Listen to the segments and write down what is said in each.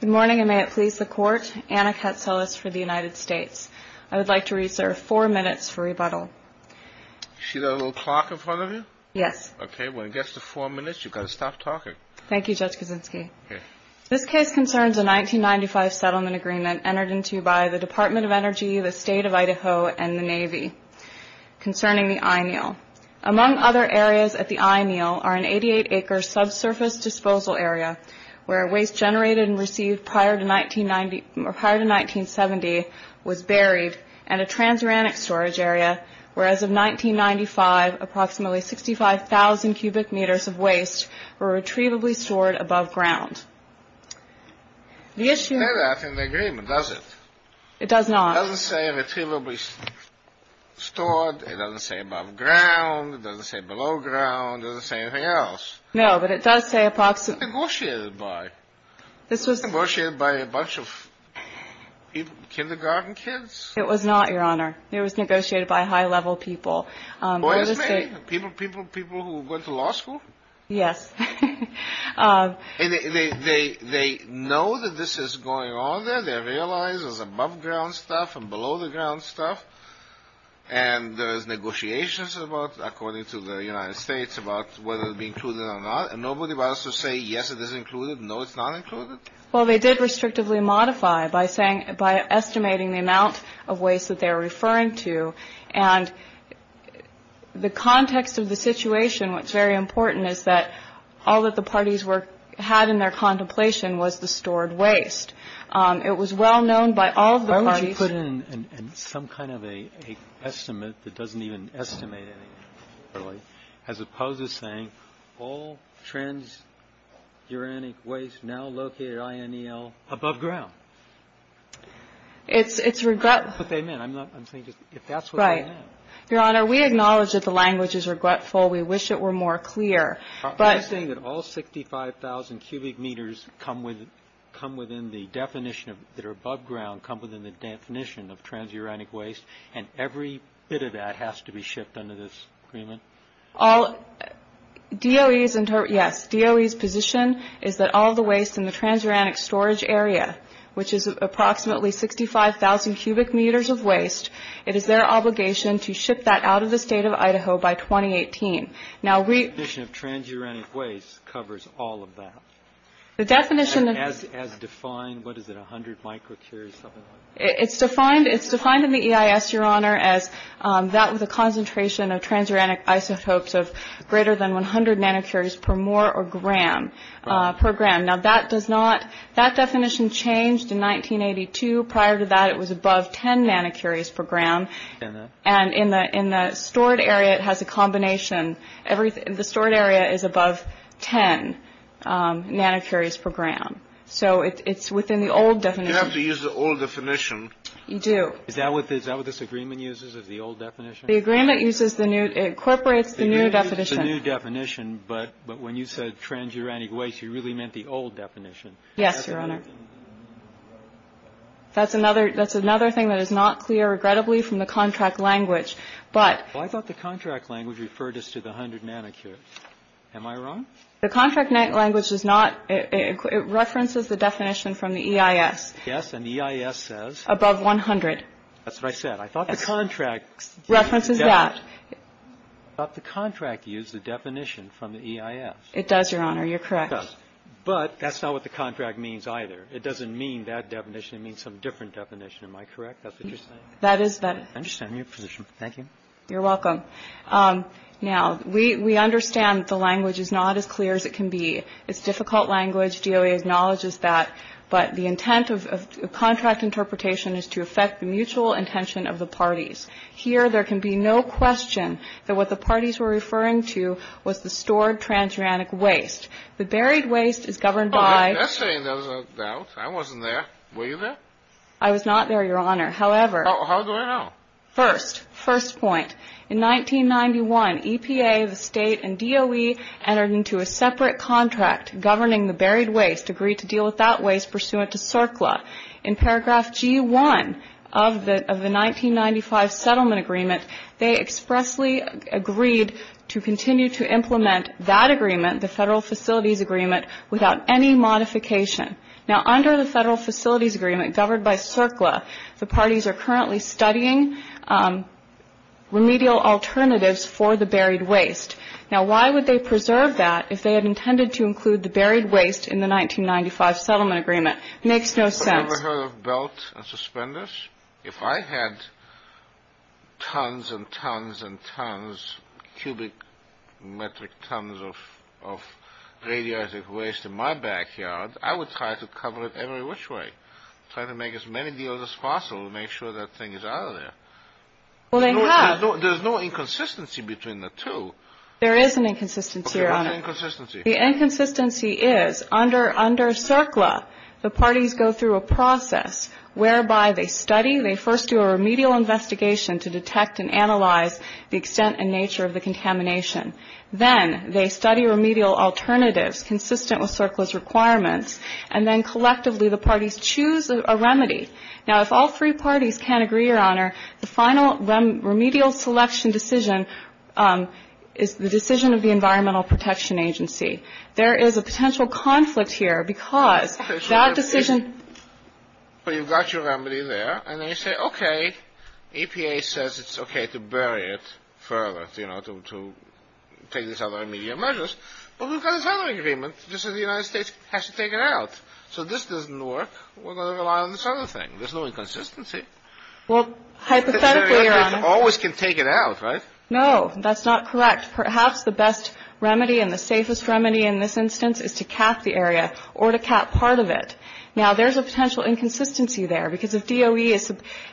Good morning and may it please the court. Anna Katselis for the United States. I would like to reserve four minutes for rebuttal. You see that little clock in front of you? Yes. Okay, when it gets to four minutes, you've got to stop talking. Thank you, Judge Kaczynski. This case concerns a 1995 settlement agreement entered into by the Department of Energy, the State of Idaho, and the Navy concerning the I-Neil. Among other areas at the I-Neil are an 88-acre subsurface disposal area where waste generated and received prior to 1970 was buried and a transuranic storage area where, as of 1995, approximately 65,000 cubic meters of waste were retrievably stored above ground. The issue... It says that in the agreement, does it? It does not. It doesn't say retrievably stored. It doesn't say above ground. It doesn't say below ground. It doesn't say anything else. No, but it does say approximately... This was negotiated by. This was... Negotiated by a bunch of kindergarten kids? It was not, Your Honor. It was negotiated by high-level people. OSMA? People who went to law school? Yes. And they know that this is going on there? They realize there's above-ground stuff and below-the-ground stuff? And there's negotiations about, according to the United States, about whether to be included or not? And nobody wants to say, yes, it is included, no, it's not included? Well, they did restrictively modify by saying by estimating the amount of waste that they were referring to. And the context of the situation, what's very important, is that all that the parties had in their contemplation was the stored waste. It was well known by all the parties... Why would you put in some kind of an estimate that doesn't even estimate anything? As opposed to saying, all transuranic waste now located at INEL above ground. It's regret... I'm saying if that's what they meant. Right. Your Honor, we acknowledge that the language is regretful. We wish it were more clear, but... I'm saying that all 65,000 cubic meters come within the definition that are above ground, come within the definition of transuranic waste, and every bit of that has to be shipped under this agreement? All... DOE's position is that all the waste in the transuranic storage area, which is approximately 65,000 cubic meters of waste, it is their obligation to ship that out of the state of Idaho by 2018. Now we... The definition of transuranic waste covers all of that. The definition... As defined, what is it, 100 microcarriers, something like that? It's defined in the EIS, Your Honor, as that with a concentration of transuranic isotopes of greater than 100 nanocuries per mole or gram per gram. Now that does not... That definition changed in 1982. Prior to that, it was above 10 nanocuries per gram. And in the stored area, it has a combination. The stored area is above 10 nanocuries per gram. So it's within the old definition. You have to use the old definition. You do. Is that what this agreement uses, is the old definition? The agreement uses the new... It incorporates the new definition. The new definition, but when you said transuranic waste, you really meant the old definition. Yes, Your Honor. That's another thing that is not clear, regrettably, from the contract language, but... Well, I thought the contract language referred us to the 100 nanocuries. Am I wrong? The contract language does not... It references the definition from the EIS. Yes, and the EIS says... Above 100. That's what I said. I thought the contract... References that. I thought the contract used the definition from the EIS. It does, Your Honor. You're correct. It does. But that's not what the contract means either. It doesn't mean that definition. It means some different definition. Am I correct? That's what you're saying? That is... I understand your position. Thank you. You're welcome. Now, we understand the language is not as clear as it can be. It's difficult language. DOA acknowledges that. But the intent of contract interpretation is to affect the mutual intention of the parties. Here, there can be no question that what the parties were referring to was the stored transuranic waste. The buried waste is governed by... Yesterday, there was a doubt. I wasn't there. Were you there? I was not there, Your Honor. However... How do I know? First, first point. In 1991, EPA, the State, and DOE entered into a separate contract governing the buried waste, agreed to deal with that waste pursuant to CERCLA. In paragraph G1 of the 1995 settlement agreement, they expressly agreed to continue to implement that agreement, the Federal Facilities Agreement, without any modification. Now, under the Federal Facilities Agreement governed by CERCLA, the parties are currently studying remedial alternatives for the buried waste. Now, why would they preserve that if they had intended to include the buried waste in the 1995 settlement agreement? It makes no sense. Have you ever heard of belt and suspenders? If I had tons and tons and tons, cubic metric tons of radioactive waste in my backyard, I would try to cover it every which way, try to make as many deals as possible to make sure that thing is out of there. Well, they have. There's no inconsistency between the two. There is an inconsistency, Your Honor. Okay. What's the inconsistency? The inconsistency is, under CERCLA, the parties go through a process whereby they study. They first do a remedial investigation to detect and analyze the extent and nature of the contamination. Then they study remedial alternatives consistent with CERCLA's requirements, and then collectively the parties choose a remedy. Now, if all three parties can't agree, Your Honor, the final remedial selection decision is the decision of the Environmental Protection Agency. There is a potential conflict here because that decision. So you've got your remedy there, and then you say, okay, EPA says it's okay to bury it further, you know, to take these other remedial measures. Well, we've got this other agreement. This is the United States has to take it out. So this doesn't work. We're going to rely on this other thing. There's no inconsistency. Well, hypothetically, Your Honor. The United States always can take it out, right? No. That's not correct. Perhaps the best remedy and the safest remedy in this instance is to cap the area or to cap part of it. Now, there's a potential inconsistency there because if DOE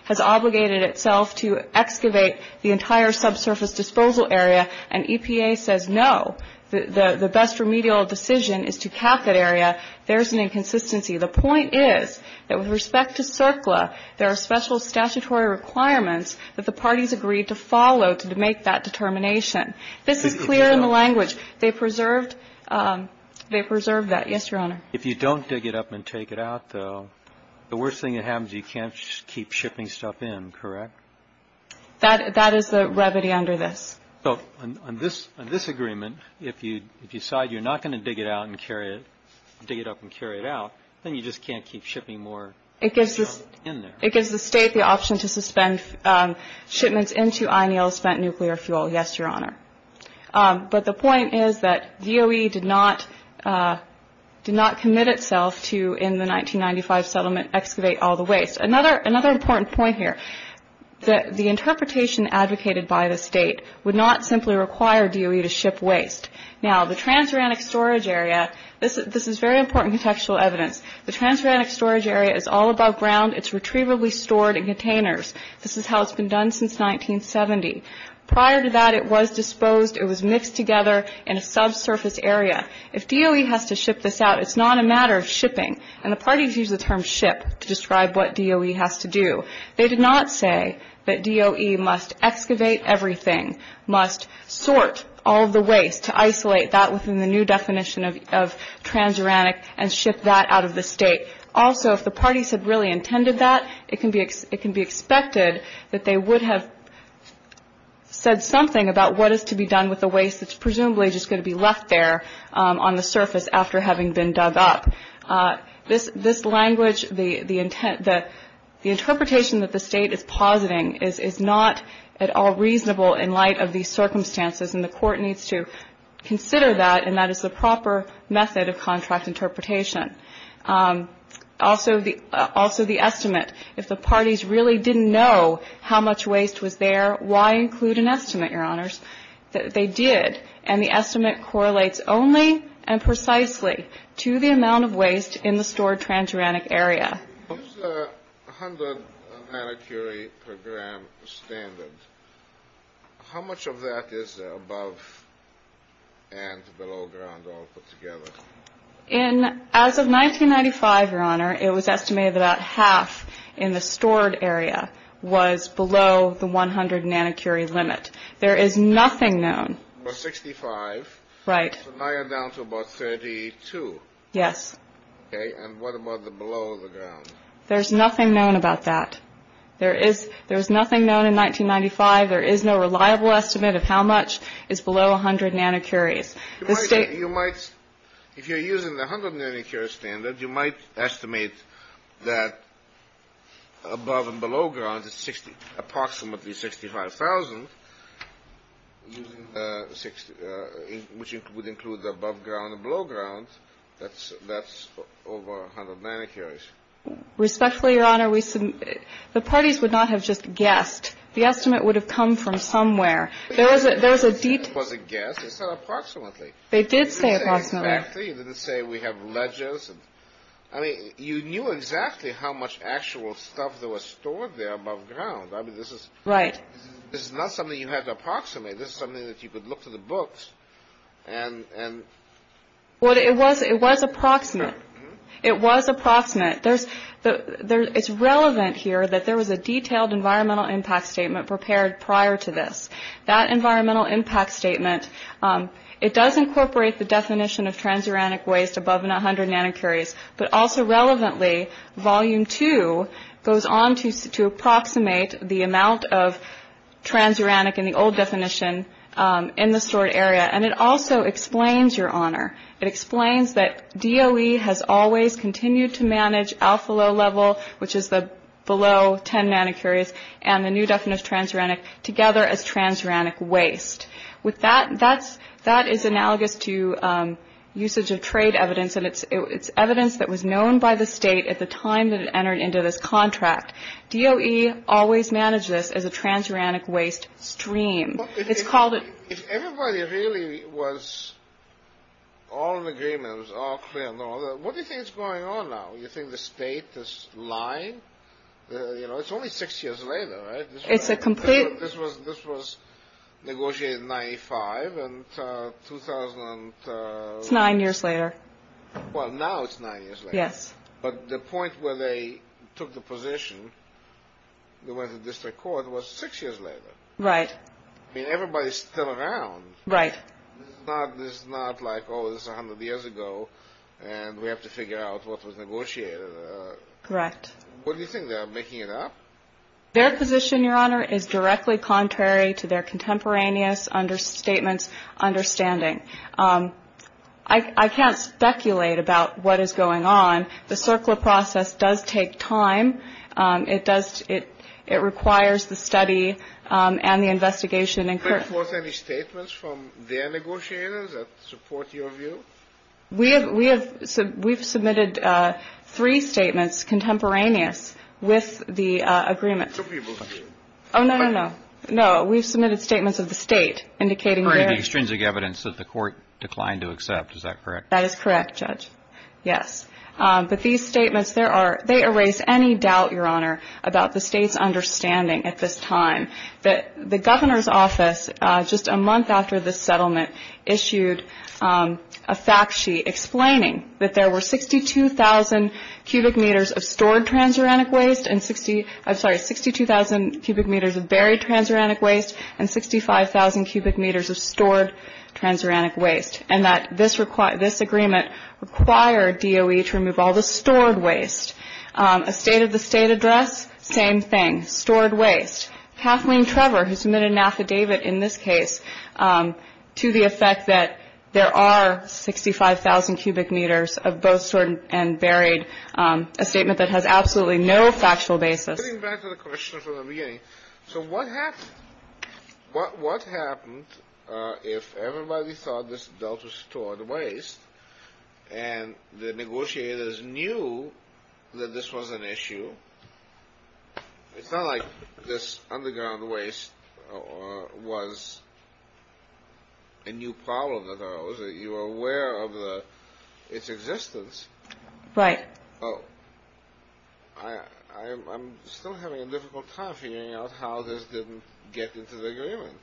has obligated itself to excavate the entire subsurface disposal area and EPA says no, the best remedial decision is to cap that area, there's an inconsistency. The point is that with respect to CERCLA, there are special statutory requirements that the parties agreed to follow to make that determination. This is clear in the language. They preserved that. Yes, Your Honor. If you don't dig it up and take it out, though, the worst thing that happens, you can't keep shipping stuff in, correct? That is the remedy under this. So on this agreement, if you decide you're not going to dig it out and carry it, dig it up and carry it out, then you just can't keep shipping more stuff in there. It gives the state the option to suspend shipments into INL spent nuclear fuel. Yes, Your Honor. But the point is that DOE did not commit itself to, in the 1995 settlement, excavate all the waste. Another important point here, the interpretation advocated by the state would not simply require DOE to ship waste. Now, the transuranic storage area, this is very important contextual evidence, the transuranic storage area is all above ground, it's retrievably stored in containers. This is how it's been done since 1970. Prior to that, it was disposed, it was mixed together in a subsurface area. If DOE has to ship this out, it's not a matter of shipping, and the parties use the term ship to describe what DOE has to do. They did not say that DOE must excavate everything, must sort all the waste, to isolate that within the new definition of transuranic and ship that out of the state. Also, if the parties had really intended that, it can be expected that they would have said something about what is to be done with the waste that's presumably just going to be left there on the surface after having been dug up. This language, the interpretation that the state is positing is not at all reasonable in light of these circumstances, and the Court needs to consider that, and that is the proper method of contract interpretation. Also, the estimate. If the parties really didn't know how much waste was there, why include an estimate, Your Honors? They did, and the estimate correlates only and precisely to the amount of waste in the stored transuranic area. What is the 100 nanocuries per gram standard? How much of that is above and below ground altogether? As of 1995, Your Honor, it was estimated that about half in the stored area was below the 100 nanocuries limit. There is nothing known. About 65. Right. So now you're down to about 32. Yes. Okay, and what about below the ground? There's nothing known about that. There is nothing known in 1995. There is no reliable estimate of how much is below 100 nanocuries. You might, if you're using the 100 nanocuries standard, you might estimate that above and below ground is approximately 65,000, which would include the above ground and below ground. That's over 100 nanocuries. Respectfully, Your Honor, the parties would not have just guessed. The estimate would have come from somewhere. There is a deep question. They said approximately. They did say approximately. You didn't say exactly. You didn't say we have ledgers. I mean, you knew exactly how much actual stuff that was stored there above ground. I mean, this is not something you had to approximate. This is something that you could look to the books and... Well, it was approximate. It was approximate. It's relevant here that there was a detailed environmental impact statement prepared prior to this. That environmental impact statement, it does incorporate the definition of transuranic waste above 100 nanocuries, but also relevantly, Volume 2 goes on to approximate the amount of transuranic in the old definition in the stored area. And it also explains, Your Honor, it explains that DOE has always continued to manage alpha-low level, which is the below 10 nanocuries, and the new definition of transuranic together as transuranic waste. That is analogous to usage of trade evidence, and it's evidence that was known by the state at the time that it entered into this contract. DOE always managed this as a transuranic waste stream. It's called a... If everybody really was all in agreement, it was all clear and all that, what do you think is going on now? You think the state is lying? You know, it's only six years later, right? It's a complete... This was negotiated in 95, and 2000... It's nine years later. Well, now it's nine years later. Yes. But the point where they took the position, they went to district court, was six years later. Right. I mean, everybody's still around. Right. This is not like, oh, this is 100 years ago, and we have to figure out what was negotiated. Correct. What do you think they're making it up? Their position, Your Honor, is directly contrary to their contemporaneous statements' understanding. I can't speculate about what is going on. The CERCLA process does take time. It does... It requires the study and the investigation. Were there any statements from their negotiators that support your view? We have submitted three statements contemporaneous with the agreement. Two people. Oh, no, no, no. No, we've submitted statements of the state indicating their... The extrinsic evidence that the court declined to accept, is that correct? That is correct, Judge, yes. But these statements, they erase any doubt, Your Honor, about the state's understanding at this time. The governor's office, just a month after this settlement, issued a fact sheet explaining that there were 62,000 cubic meters of stored transuranic waste... I'm sorry, 62,000 cubic meters of buried transuranic waste and 65,000 cubic meters of stored transuranic waste, and that this agreement required DOE to remove all the stored waste. A State of the State address, same thing, stored waste. Kathleen Trevor, who submitted an affidavit in this case, to the effect that there are 65,000 cubic meters of both stored and buried, a statement that has absolutely no factual basis. Getting back to the question from the beginning, so what happened? What happened if everybody thought this dealt with stored waste and the negotiators knew that this was an issue? It's not like this underground waste was a new problem that arose. You were aware of its existence. Right. I'm still having a difficult time figuring out how this didn't get into the agreement.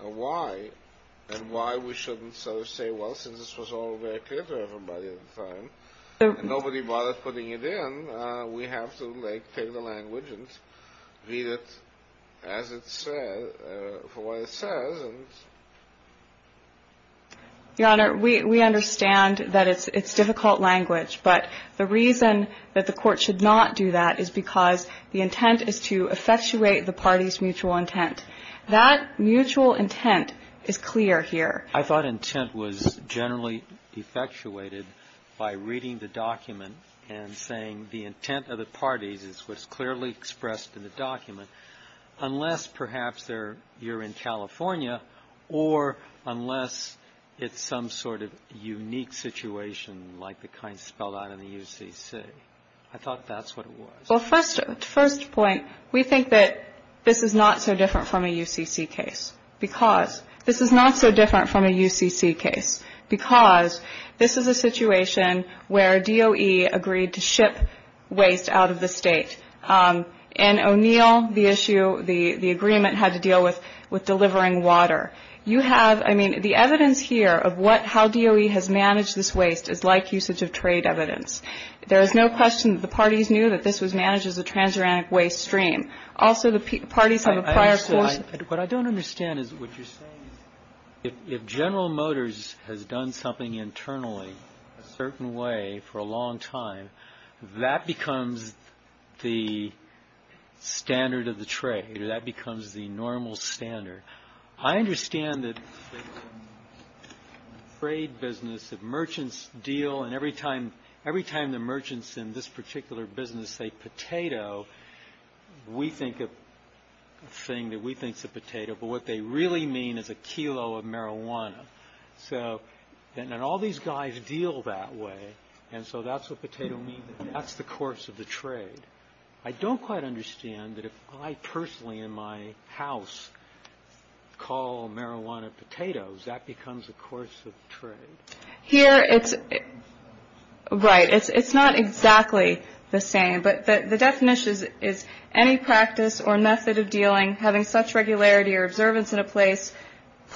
Why? And why we shouldn't sort of say, well, since this was all very clear to everybody at the time, and nobody bothered putting it in, we have to, like, take the language and read it as it says, for what it says. Your Honor, we understand that it's difficult language, but the reason that the Court should not do that is because the intent is to effectuate the parties' mutual intent. That mutual intent is clear here. I thought intent was generally effectuated by reading the document and saying the intent of the parties is what's clearly expressed in the document, unless perhaps you're in California or unless it's some sort of unique situation like the kind spelled out in the UCC. I thought that's what it was. Well, first point, we think that this is not so different from a UCC case because this is a situation where DOE agreed to ship waste out of the state. In O'Neill, the issue, the agreement had to deal with delivering water. You have, I mean, the evidence here of what, how DOE has managed this waste is like usage of trade evidence. There is no question that the parties knew that this was managed as a transuranic waste stream. Also, the parties have a prior course. What I don't understand is what you're saying is if General Motors has done something internally a certain way for a long time, that becomes the standard of the trade or that becomes the normal standard. I understand that the trade business, the merchants deal, and every time the merchants in this particular business say potato, we think a thing that we think is a potato, but what they really mean is a kilo of marijuana. So then all these guys deal that way, and so that's what potato means. That's the course of the trade. I don't quite understand that if I personally in my house call marijuana potatoes, that becomes a course of trade. Here it's right. It's not exactly the same, but the definition is any practice or method of dealing, having such regularity or observance in a place,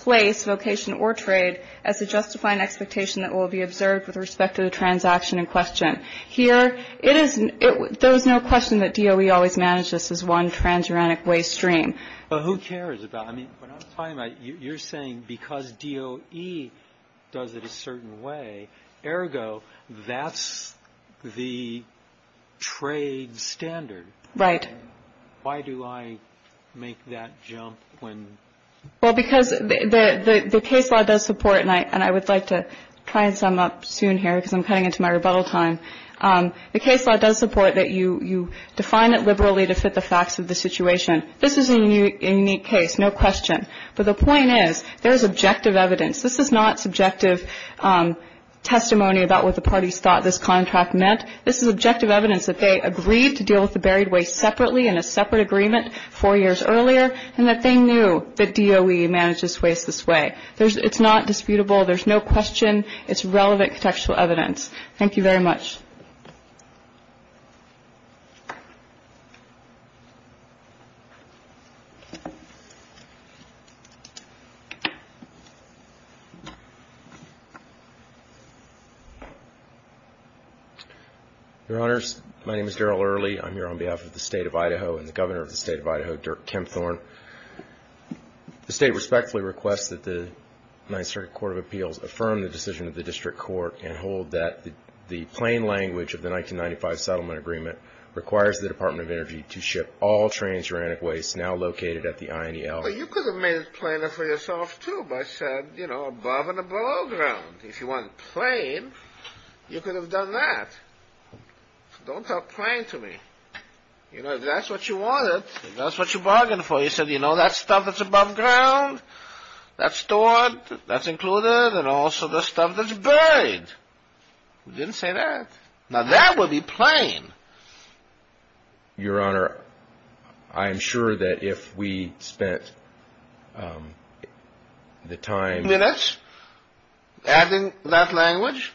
vocation or trade as to justify an expectation that will be observed with respect to the transaction in question. Here it is, there is no question that DOE always managed this as one transuranic waste stream. But who cares about it? I mean, what I'm talking about, you're saying because DOE does it a certain way, ergo that's the trade standard. Right. Why do I make that jump when? Well, because the case law does support, and I would like to try and sum up soon here because I'm cutting into my rebuttal time. The case law does support that you define it liberally to fit the facts of the situation. This is a unique case, no question. But the point is there is objective evidence. This is not subjective testimony about what the parties thought this contract meant. This is objective evidence that they agreed to deal with the buried waste separately in a separate agreement four years earlier, and that they knew that DOE manages waste this way. It's not disputable. There's no question. It's relevant contextual evidence. Thank you very much. Your Honors, my name is Darrell Early. I'm here on behalf of the State of Idaho and the Governor of the State of Idaho, Dirk Tempthorne. The State respectfully requests that the Ninth Circuit Court of Appeals affirm the decision of the District Court and hold that the plain language of the 1995 settlement agreement requires the Department of Energy to ship all transuranic waste now located at the INEL. Well, you could have made it plainer for yourself, too, by saying, you know, above and below ground. If you wanted plain, you could have done that. Don't talk plain to me. You know, if that's what you wanted, if that's what you bargained for, you said, you know, that stuff that's above ground, that's stored, that's included, and also the stuff that's buried. We didn't say that. Now, that would be plain. Your Honor, I am sure that if we spent the time... Minutes adding that language,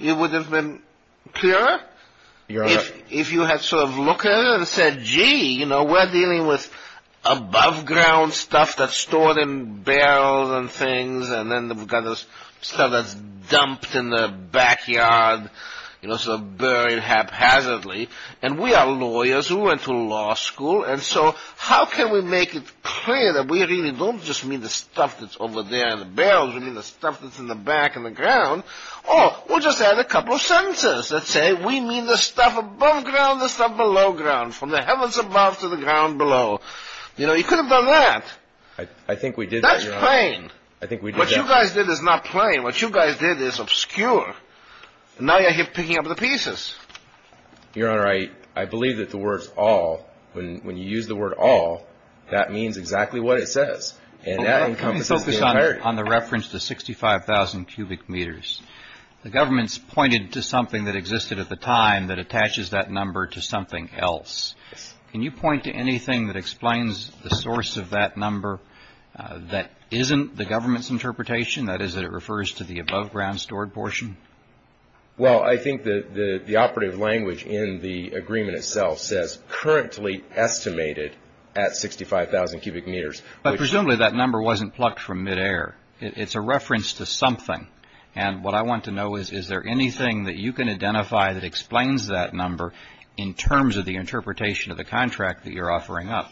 it would have been clearer. Your Honor... If you had sort of looked at it and said, gee, you know, we're dealing with above ground stuff that's stored in barrels and things, and then we've got this stuff that's dumped in the backyard, you know, sort of buried haphazardly, and we are lawyers who went to law school, and so how can we make it clear that we really don't just mean the stuff that's over there in the barrels. We mean the stuff that's in the back in the ground. Or we'll just add a couple of sentences that say we mean the stuff above ground, the stuff below ground, from the heavens above to the ground below. You know, you could have done that. I think we did that, Your Honor. That's plain. I think we did that. What you guys did is not plain. What you guys did is obscure. Now you're picking up the pieces. Your Honor, I believe that the word all, when you use the word all, that means exactly what it says, and that encompasses the entirety. On the reference to 65,000 cubic meters, the government's pointed to something that existed at the time that attaches that number to something else. Can you point to anything that explains the source of that number that isn't the government's interpretation, that is that it refers to the above ground stored portion? Well, I think the operative language in the agreement itself says currently estimated at 65,000 cubic meters. But presumably that number wasn't plucked from midair. It's a reference to something. And what I want to know is, is there anything that you can identify that explains that number in terms of the interpretation of the contract that you're offering up?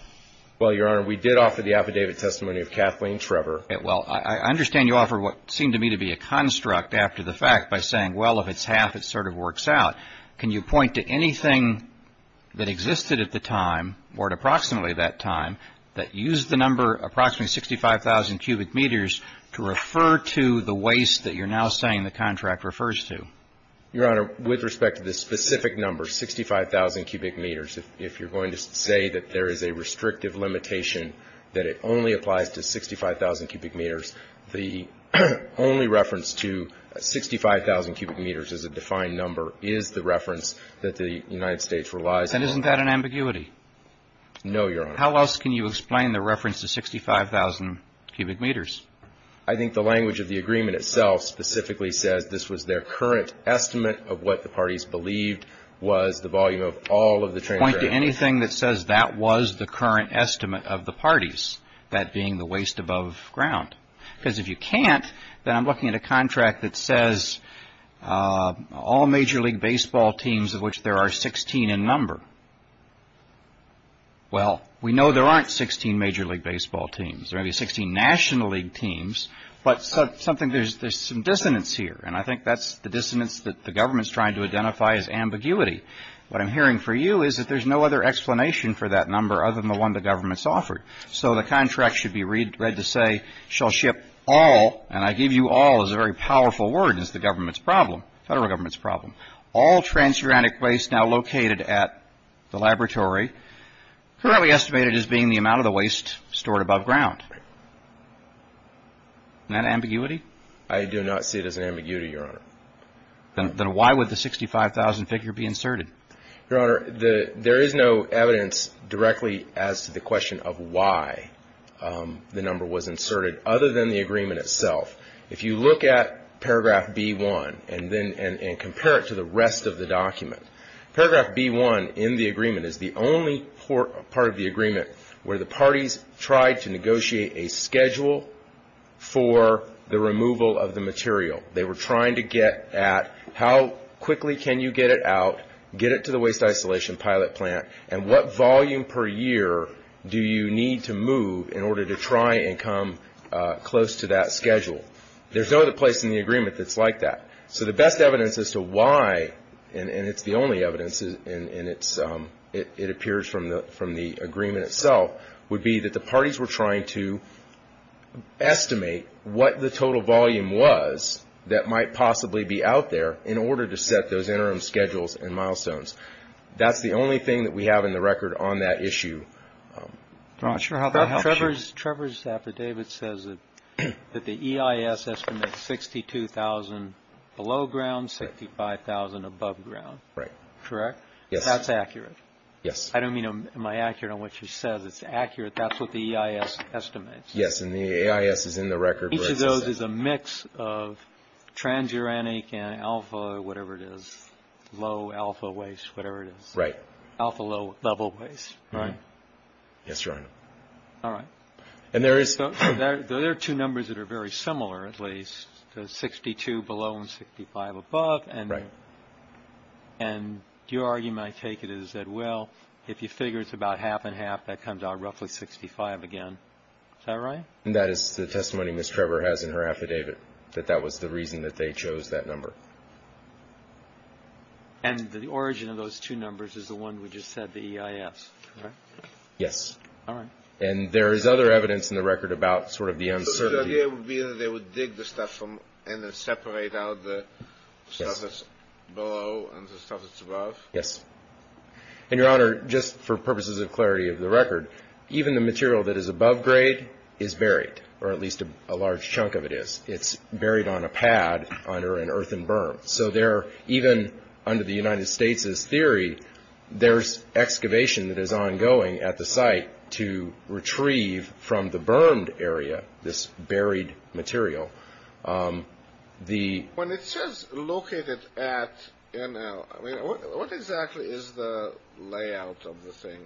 Well, Your Honor, we did offer the affidavit testimony of Kathleen Trevor. Well, I understand you offer what seemed to me to be a construct after the fact by saying, well, if it's half, it sort of works out. But I'm wondering if you can point to anything that existed at the time or at approximately that time that used the number approximately 65,000 cubic meters to refer to the waste that you're now saying the contract refers to. Your Honor, with respect to the specific number, 65,000 cubic meters, if you're going to say that there is a restrictive limitation that it only applies to 65,000 cubic meters, the only reference to 65,000 cubic meters as a defined number is the reference that the United States relies on. And isn't that an ambiguity? No, Your Honor. How else can you explain the reference to 65,000 cubic meters? I think the language of the agreement itself specifically says this was their current estimate of what the parties believed was the volume of all of the train tracks. I can't point to anything that says that was the current estimate of the parties, that being the waste above ground. Because if you can't, then I'm looking at a contract that says all Major League Baseball teams of which there are 16 in number. Well, we know there aren't 16 Major League Baseball teams. There may be 16 National League teams, but there's some dissonance here. And I think that's the dissonance that the government's trying to identify as ambiguity. What I'm hearing for you is that there's no other explanation for that number other than the one the government's offered. So the contract should be read to say shall ship all, and I give you all is a very powerful word, is the government's problem, federal government's problem, all transuranic waste now located at the laboratory, currently estimated as being the amount of the waste stored above ground. Isn't that an ambiguity? I do not see it as an ambiguity, Your Honor. Then why would the 65,000 figure be inserted? Your Honor, there is no evidence directly as to the question of why the number was inserted other than the agreement itself. If you look at paragraph B-1 and compare it to the rest of the document, paragraph B-1 in the agreement is the only part of the agreement where the parties tried to negotiate a schedule for the removal of the material. They were trying to get at how quickly can you get it out, get it to the waste isolation pilot plant, and what volume per year do you need to move in order to try and come close to that schedule. There's no other place in the agreement that's like that. So the best evidence as to why, and it's the only evidence, and it appears from the agreement itself, would be that the parties were trying to estimate what the total volume was that might possibly be out there in order to set those interim schedules and milestones. That's the only thing that we have in the record on that issue. I'm not sure how that helps you. Trevor's affidavit says that the EIS estimates 62,000 below ground, 65,000 above ground. Correct? Yes. That's accurate? Yes. I don't mean am I accurate on what she says. It's accurate. That's what the EIS estimates. Yes, and the EIS is in the record. Each of those is a mix of transuranic and alpha, whatever it is, low alpha waste, whatever it is. Right. Alpha low level waste, right? Yes, Your Honor. All right. There are two numbers that are very similar at least, 62 below and 65 above. Right. And your argument, I take it, is that, well, if you figure it's about half and half, that comes out roughly 65 again. Is that right? That is the testimony Ms. Trevor has in her affidavit, that that was the reason that they chose that number. And the origin of those two numbers is the one we just said, the EIS, right? Yes. All right. And there is other evidence in the record about sort of the uncertainty. So the idea would be that they would dig the stuff and then separate out the stuff that's below and the stuff that's above? Yes. And, Your Honor, just for purposes of clarity of the record, even the material that is above grade is buried, or at least a large chunk of it is. It's buried on a pad under an earthen berm. So there, even under the United States' theory, there's excavation that is ongoing at the site to retrieve from the bermed area this buried material. When it says located at NL, I mean, what exactly is the layout of the thing?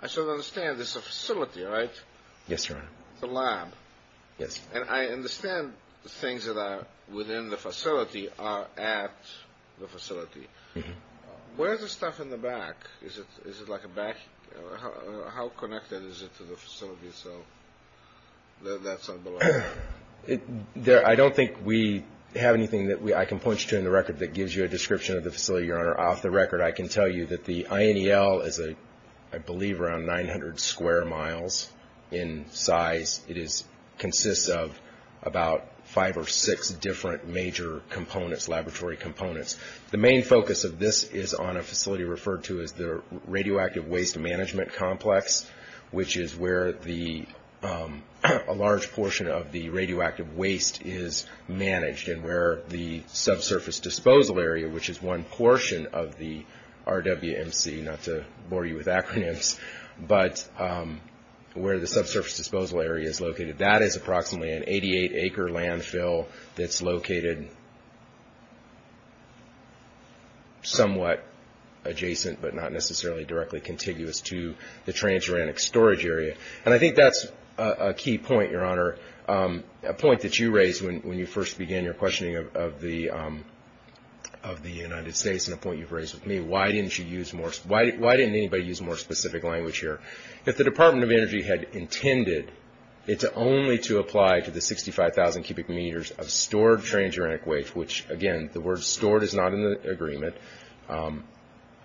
I should understand this is a facility, right? Yes, Your Honor. It's a lab. Yes. And I understand the things that are within the facility are at the facility. Where is the stuff in the back? Is it like a back? How connected is it to the facility itself that that's below? I don't think we have anything that I can point you to in the record that gives you a description of the facility, Your Honor. Off the record, I can tell you that the INEL is, I believe, around 900 square miles in size. It consists of about five or six different major components, laboratory components. The main focus of this is on a facility referred to as the radioactive waste management complex, which is where a large portion of the radioactive waste is managed, and where the subsurface disposal area, which is one portion of the RWMC, not to bore you with acronyms, but where the subsurface disposal area is located. That is approximately an 88-acre landfill that's located somewhat adjacent, but not necessarily directly contiguous to the transuranic storage area. And I think that's a key point, Your Honor, a point that you raised when you first began your questioning of the United States, and a point you've raised with me. Why didn't anybody use more specific language here? If the Department of Energy had intended only to apply to the 65,000 cubic meters of stored transuranic waste, which, again, the word stored is not in the agreement,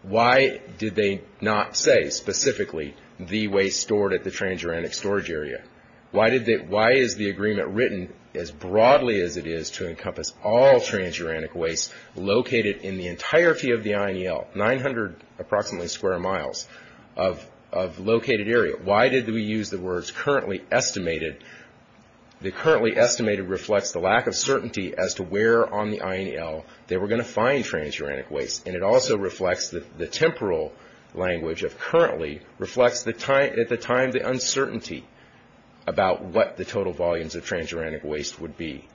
why did they not say specifically the waste stored at the transuranic storage area? Why is the agreement written as broadly as it is to encompass all transuranic waste located in the entirety of the INEL, 900 approximately square miles of located area? Why did we use the words currently estimated? The currently estimated reflects the lack of certainty as to where on the INEL they were going to find transuranic waste, and it also reflects the temporal language of currently reflects at the time the uncertainty about what the total volumes of transuranic waste would be.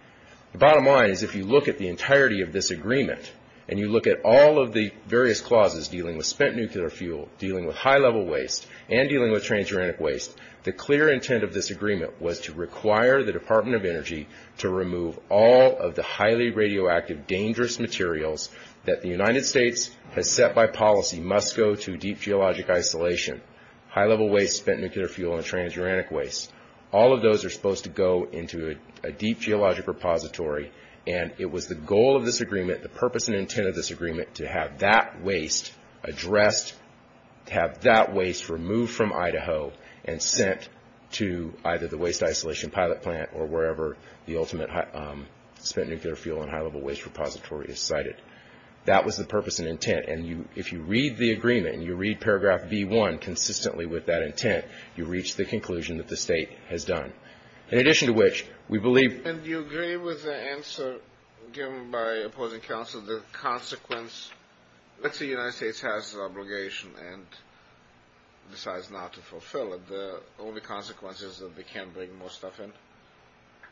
The bottom line is if you look at the entirety of this agreement, and you look at all of the various clauses dealing with spent nuclear fuel, dealing with high-level waste, and dealing with transuranic waste, the clear intent of this agreement was to require the Department of Energy to remove all of the highly radioactive, dangerous materials that the United States has set by policy must go to deep geologic isolation, high-level waste, spent nuclear fuel, and transuranic waste. All of those are supposed to go into a deep geologic repository, and it was the goal of this agreement, the purpose and intent of this agreement, to have that waste addressed, to have that waste removed from Idaho, and sent to either the waste isolation pilot plant or wherever the ultimate spent nuclear fuel and high-level waste repository is sited. That was the purpose and intent, and if you read the agreement, and you read paragraph B1 consistently with that intent, you reach the conclusion that the state has done. In addition to which, we believe – And do you agree with the answer given by opposing counsel, that the consequence – let's say the United States has an obligation and decides not to fulfill it, the only consequence is that they can't bring more stuff in?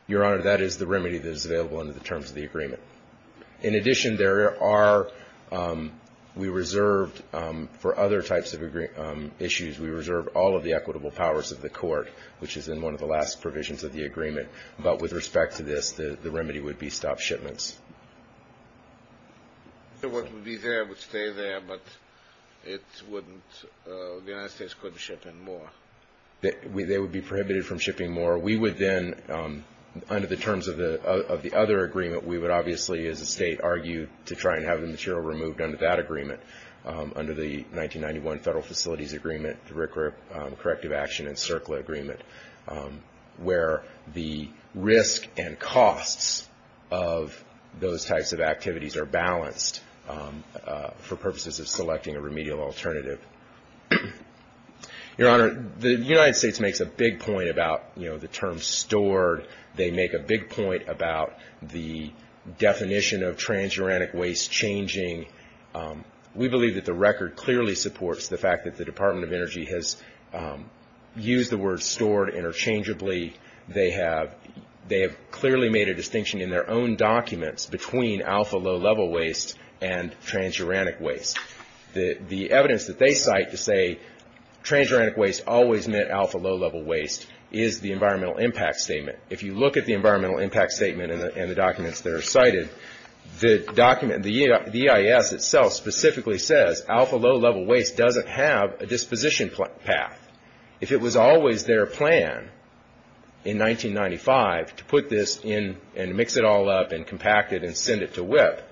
Your Honor, that is the remedy that is available under the terms of the agreement. In addition, there are – we reserved for other types of issues, we reserved all of the equitable powers of the court, which is in one of the last provisions of the agreement, but with respect to this, the remedy would be stop shipments. So what would be there would stay there, but it wouldn't – the United States couldn't ship in more? They would be prohibited from shipping more. We would then, under the terms of the other agreement, we would obviously, as a state, argue to try and have the material removed under that agreement, under the 1991 Federal Facilities Agreement, the Corrective Action and CERCLA agreement, where the risk and costs of those types of activities are balanced for purposes of selecting a remedial alternative. Your Honor, the United States makes a big point about the term stored. They make a big point about the definition of transuranic waste changing. We believe that the record clearly supports the fact that the Department of Energy has used the word stored interchangeably. They have clearly made a distinction in their own documents between alpha low-level waste and transuranic waste. The evidence that they cite to say transuranic waste always met alpha low-level waste is the Environmental Impact Statement. If you look at the Environmental Impact Statement and the documents that are cited, the document – the EIS itself specifically says alpha low-level waste doesn't have a disposition path. If it was always their plan in 1995 to put this in and mix it all up and compact it and send it to WIPP,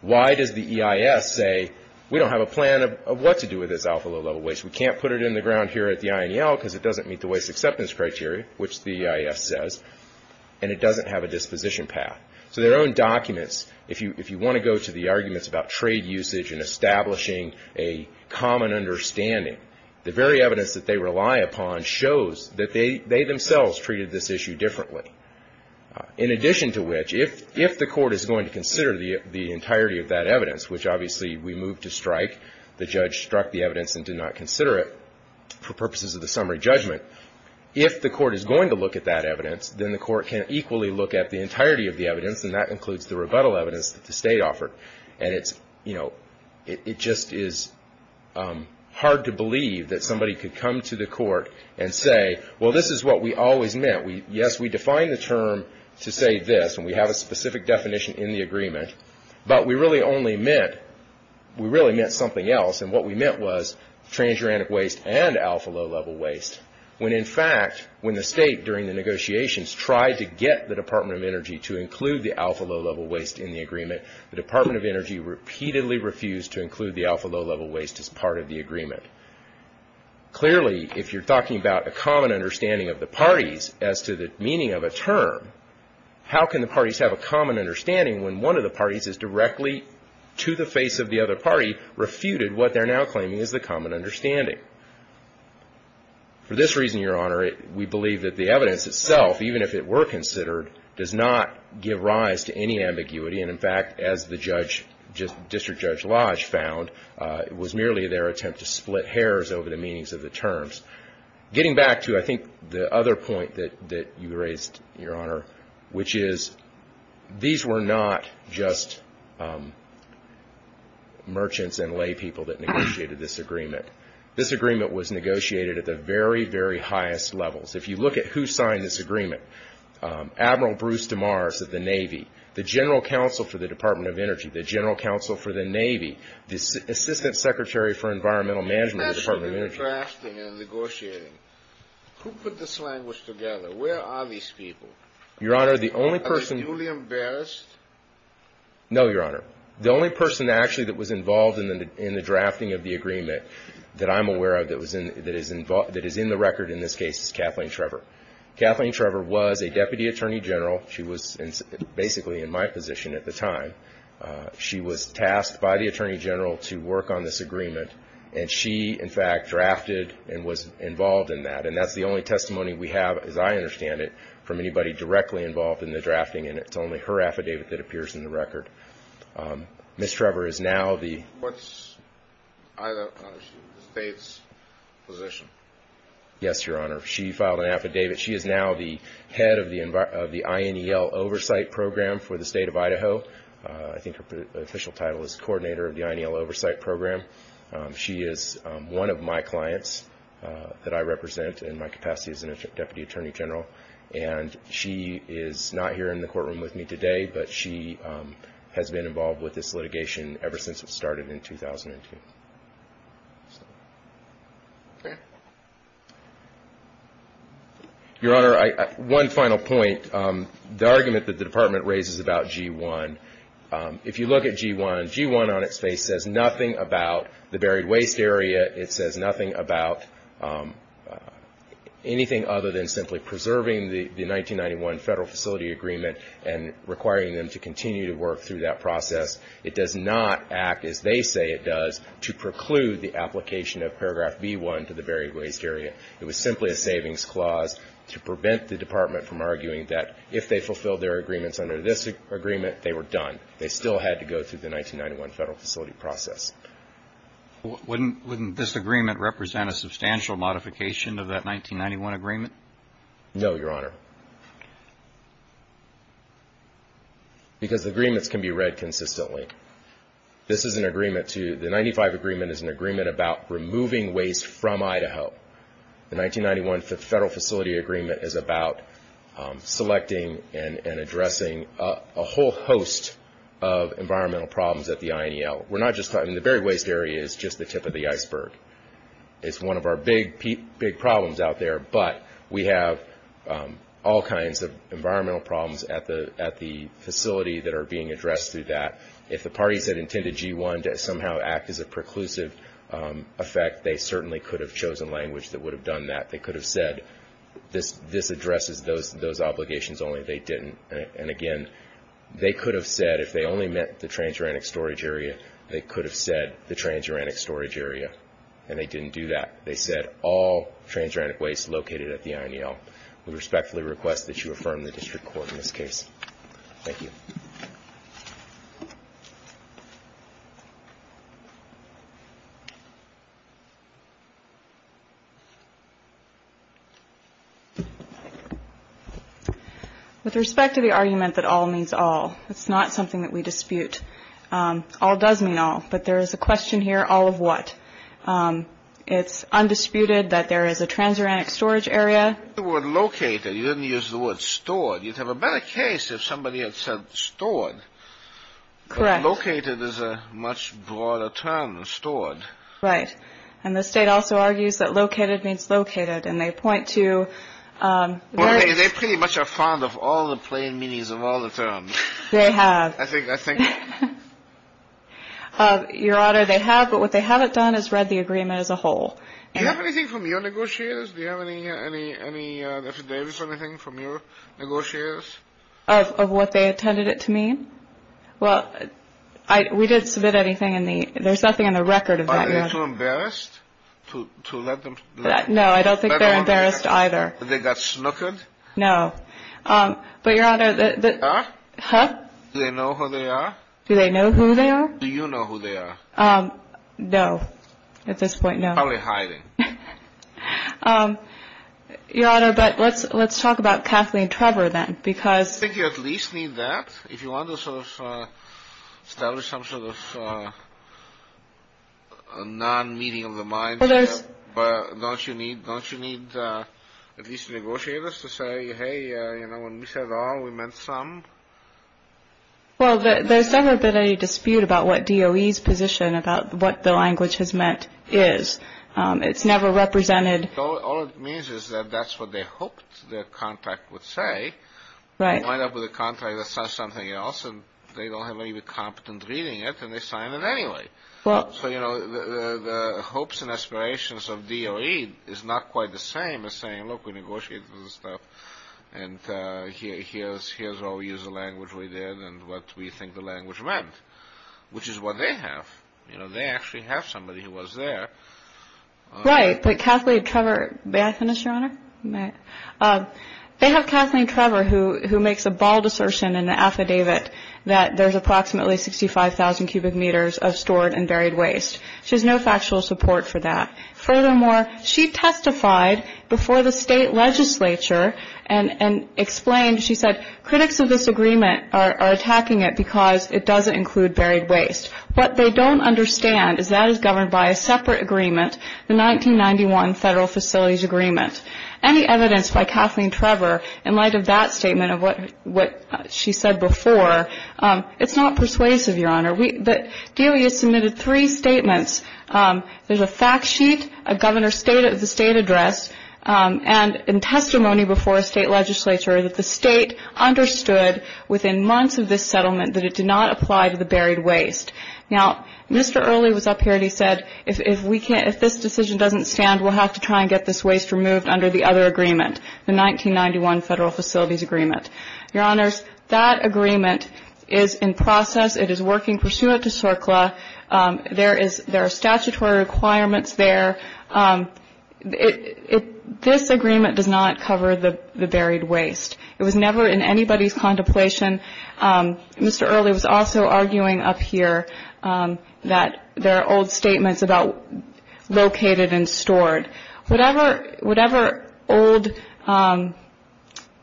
why does the EIS say we don't have a plan of what to do with this alpha low-level waste? We can't put it in the ground here at the INEL because it doesn't meet the waste acceptance criteria, which the EIS says, and it doesn't have a disposition path. So their own documents, if you want to go to the arguments about trade usage and establishing a common understanding, the very evidence that they rely upon shows that they themselves treated this issue differently. In addition to which, if the court is going to consider the entirety of that evidence, which obviously we moved to strike, the judge struck the evidence and did not consider it for purposes of the summary judgment, if the court is going to look at that evidence, then the court can equally look at the entirety of the evidence, and that includes the rebuttal evidence that the State offered. And it just is hard to believe that somebody could come to the court and say, well, this is what we always meant. Yes, we defined the term to say this, and we have a specific definition in the agreement, but we really meant something else, and what we meant was transuranic waste and alpha low-level waste. When in fact, when the State, during the negotiations, tried to get the Department of Energy to include the alpha low-level waste in the agreement, the Department of Energy repeatedly refused to include the alpha low-level waste as part of the agreement. Clearly, if you're talking about a common understanding of the parties as to the meaning of a term, how can the parties have a common understanding when one of the parties is directly, to the face of the other party, refuted what they're now claiming is the common understanding? For this reason, Your Honor, we believe that the evidence itself, even if it were considered, does not give rise to any ambiguity, and in fact, as the District Judge Lodge found, it was merely their attempt to split hairs over the meanings of the terms. Getting back to, I think, the other point that you raised, Your Honor, which is these were not just merchants and laypeople that negotiated this agreement. This agreement was negotiated at the very, very highest levels. If you look at who signed this agreement, Admiral Bruce DeMars of the Navy, the General Counsel for the Department of Energy, the General Counsel for the Navy, the Assistant Secretary for Environmental Management of the Department of Energy. You mentioned the drafting and negotiating. Who put this language together? Where are these people? Your Honor, the only person— Are they duly embarrassed? No, Your Honor. The only person actually that was involved in the drafting of the agreement that I'm aware of that is in the record in this case is Kathleen Trevor. Kathleen Trevor was a Deputy Attorney General. She was basically in my position at the time. She was tasked by the Attorney General to work on this agreement, and she, in fact, drafted and was involved in that. And that's the only testimony we have, as I understand it, from anybody directly involved in the drafting, and it's only her affidavit that appears in the record. Ms. Trevor is now the— What's the State's position? Yes, Your Honor. She filed an affidavit. She is now the head of the INEL Oversight Program for the State of Idaho. I think her official title is Coordinator of the INEL Oversight Program. She is one of my clients that I represent in my capacity as a Deputy Attorney General, and she is not here in the courtroom with me today, but she has been involved with this litigation ever since it started in 2002. Your Honor, one final point. The argument that the Department raises about G-1, if you look at G-1, G-1 on its face says nothing about the buried waste area. It says nothing about anything other than simply preserving the 1991 Federal Facility Agreement and requiring them to continue to work through that process. It does not act as they say it does to preclude the application of Paragraph B-1 to the buried waste area. It was simply a savings clause to prevent the Department from arguing that if they fulfilled their agreements under this agreement, they were done. They still had to go through the 1991 Federal Facility Process. Wouldn't this agreement represent a substantial modification of that 1991 agreement? No, Your Honor, because the agreements can be read consistently. The 1995 agreement is an agreement about removing waste from Idaho. The 1991 Federal Facility Agreement is about selecting and addressing a whole host of environmental problems at the INEL. The buried waste area is just the tip of the iceberg. It's one of our big, big problems out there, but we have all kinds of environmental problems at the facility that are being addressed through that. If the parties had intended G-1 to somehow act as a preclusive effect, they certainly could have chosen language that would have done that. They could have said, this addresses those obligations only. They didn't. Again, they could have said, if they only meant the transuranic storage area, they could have said the transuranic storage area, and they didn't do that. They said all transuranic waste located at the INEL. We respectfully request that you affirm the district court in this case. Thank you. With respect to the argument that all means all, it's not something that we dispute. All does mean all, but there is a question here, all of what? It's undisputed that there is a transuranic storage area. The word located, you didn't use the word stored. You'd have a better case if somebody had said stored. Correct. Located is a much broader term than stored. Right. And the state also argues that located means located, and they point to – Well, they pretty much are fond of all the plain meanings of all the terms. They have. I think – Your Honor, they have, but what they haven't done is read the agreement as a whole. Do you have anything from your negotiators? Do you have any affidavits or anything from your negotiators? Of what they intended it to mean? Well, we didn't submit anything in the – there's nothing in the record of that, Your Honor. Are they too embarrassed to let them – No, I don't think they're embarrassed either. They got snookered? No. But, Your Honor, the – Huh? Huh? Do they know who they are? Do they know who they are? Do you know who they are? No, at this point, no. Probably hiding. Your Honor, but let's talk about Kathleen and Trevor, then, because – I think you at least need that if you want to sort of establish some sort of non-meaning of the mind here. Well, there's – But don't you need at least negotiators to say, hey, when we said all, we meant some? Well, there's never been any dispute about what DOE's position about what the language has meant is. It's never represented – All it means is that that's what they hoped their contract would say. Right. They wind up with a contract that says something else, and they don't have anybody competent reading it, and they sign it anyway. Well – So, you know, the hopes and aspirations of DOE is not quite the same as saying, look, we negotiated this stuff, and here's how we use the language we did and what we think the language meant, which is what they have. You know, they actually have somebody who was there. Right, but Kathleen and Trevor – may I finish, Your Honor? You may. They have Kathleen and Trevor, who makes a bald assertion in the affidavit that there's approximately 65,000 cubic meters of stored and buried waste. She has no factual support for that. Furthermore, she testified before the state legislature and explained, she said, critics of this agreement are attacking it because it doesn't include buried waste. What they don't understand is that it's governed by a separate agreement, the 1991 Federal Facilities Agreement. Any evidence by Kathleen and Trevor in light of that statement of what she said before, it's not persuasive, Your Honor. DOE has submitted three statements. There's a fact sheet, a governor's state of the state address, and in testimony before a state legislature that the state understood within months of this settlement that it did not apply to the buried waste. Now, Mr. Early was up here and he said, if this decision doesn't stand, we'll have to try and get this waste removed under the other agreement, the 1991 Federal Facilities Agreement. Your Honors, that agreement is in process. It is working pursuant to SORCLA. There are statutory requirements there. This agreement does not cover the buried waste. It was never in anybody's contemplation. Mr. Early was also arguing up here that there are old statements about located and stored. Whatever old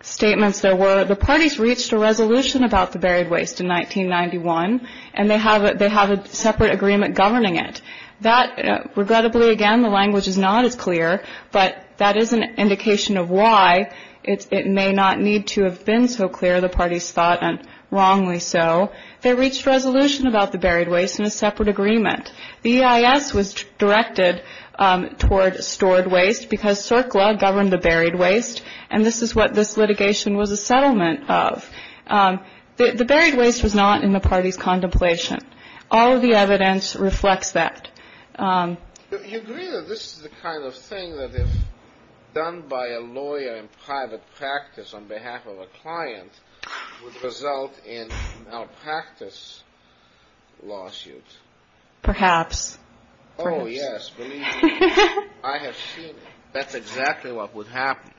statements there were, the parties reached a resolution about the buried waste in 1991, and they have a separate agreement governing it. That, regrettably, again, the language is not as clear, but that is an indication of why it may not need to have been so clear, the parties thought, and wrongly so. They reached resolution about the buried waste in a separate agreement. The EIS was directed toward stored waste because SORCLA governed the buried waste, and this is what this litigation was a settlement of. The buried waste was not in the parties' contemplation. All of the evidence reflects that. You agree that this is the kind of thing that, if done by a lawyer in private practice on behalf of a client, would result in a malpractice lawsuit? Perhaps. Oh, yes, believe me. I have seen it. That's exactly what would happen.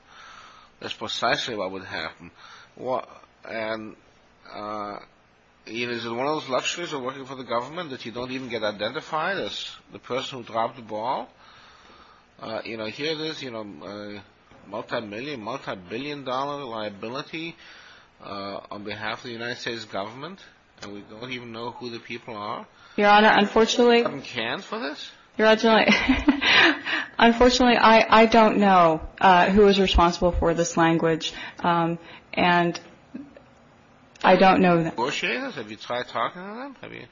That's precisely what would happen. And is it one of those luxuries of working for the government that you don't even get identified as the person who dropped the ball? You know, here it is, you know, a multi-million, multi-billion dollar liability on behalf of the United States government, and we don't even know who the people are. Your Honor, unfortunately — Who can for this? Unfortunately, I don't know who is responsible for this language. And I don't know them. Negotiators? Have you tried talking to them? I mean,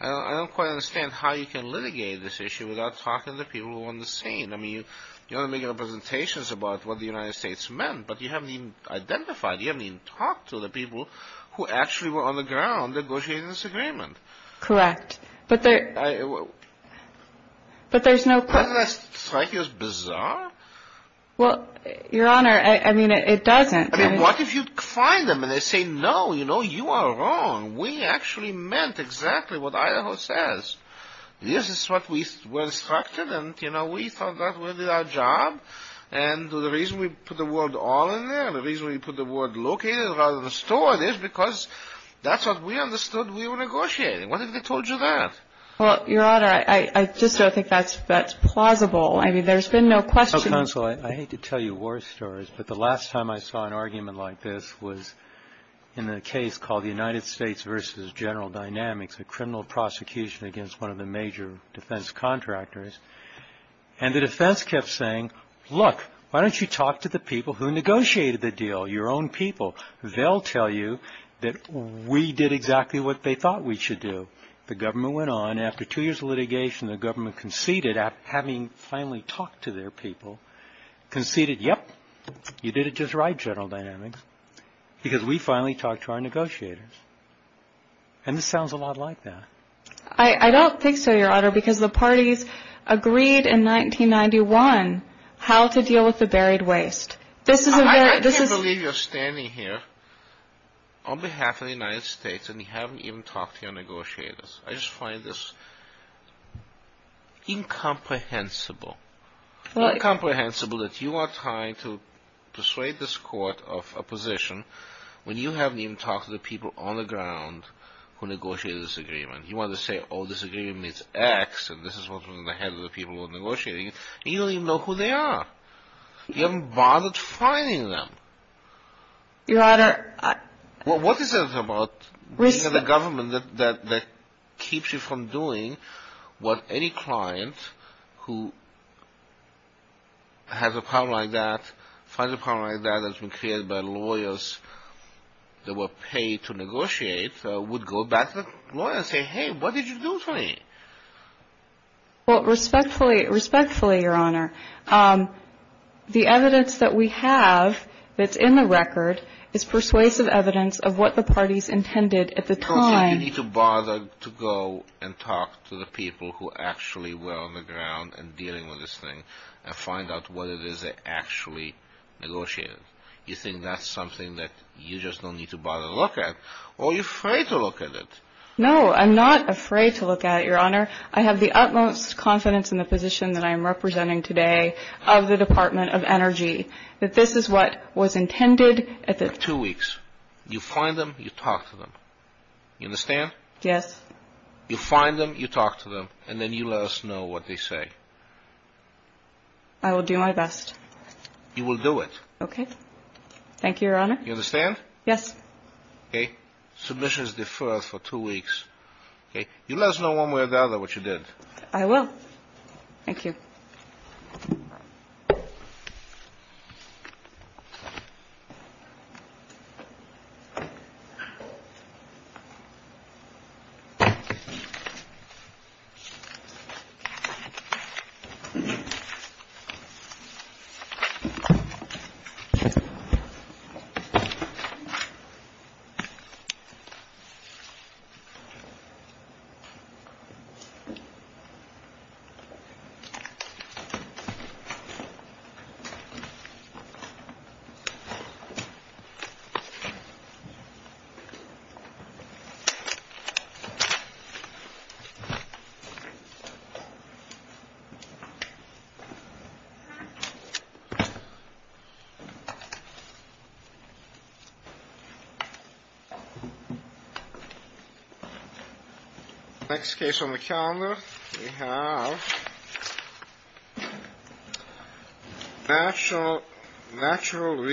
I don't quite understand how you can litigate this issue without talking to people who are on the scene. I mean, you want to make representations about what the United States meant, but you haven't even identified, you haven't even talked to the people who actually were on the ground negotiating this agreement. Correct. But there's no — Doesn't that strike you as bizarre? Well, Your Honor, I mean, it doesn't. I mean, what if you find them and they say, no, you know, you are wrong. We actually meant exactly what Idaho says. This is what we were instructed, and, you know, we thought that we did our job, and the reason we put the word all in there and the reason we put the word located rather than stored is because that's what we understood we were negotiating. What if they told you that? Well, Your Honor, I just don't think that's plausible. I mean, there's been no question — Counsel, I hate to tell you war stories, but the last time I saw an argument like this was in a case called the United States v. General Dynamics, a criminal prosecution against one of the major defense contractors, and the defense kept saying, look, why don't you talk to the people who negotiated the deal, your own people? They'll tell you that we did exactly what they thought we should do. The government went on. And after two years of litigation, the government conceded, having finally talked to their people, conceded, yep, you did it just right, General Dynamics, because we finally talked to our negotiators. And this sounds a lot like that. I don't think so, Your Honor, because the parties agreed in 1991 how to deal with the buried waste. I can't believe you're standing here on behalf of the United States and you haven't even talked to your negotiators. I just find this incomprehensible. It's not comprehensible that you are trying to persuade this Court of a position when you haven't even talked to the people on the ground who negotiated this agreement. You want to say, oh, this agreement is X, and this is what was in the heads of the people who were negotiating it, and you don't even know who they are. You haven't bothered finding them. Your Honor, I — What is it about the government that keeps you from doing what any client who has a problem like that, finds a problem like that that's been created by lawyers that were paid to negotiate, would go back to the lawyer and say, hey, what did you do to me? Well, respectfully, respectfully, Your Honor, the evidence that we have that's in the record is persuasive evidence of what the parties intended at the time — You don't think you need to bother to go and talk to the people who actually were on the ground and dealing with this thing and find out what it is they actually negotiated. You think that's something that you just don't need to bother to look at? Or are you afraid to look at it? No, I'm not afraid to look at it, Your Honor. I have the utmost confidence in the position that I am representing today of the Department of Energy, that this is what was intended at the — Two weeks. You find them, you talk to them. You understand? Yes. You find them, you talk to them, and then you let us know what they say. I will do my best. You will do it. Okay. Thank you, Your Honor. You understand? Yes. Okay. Submission is deferred for two weeks. You let us know one way or the other what you did. I will. Thank you. Thank you. Next case on the calendar, we have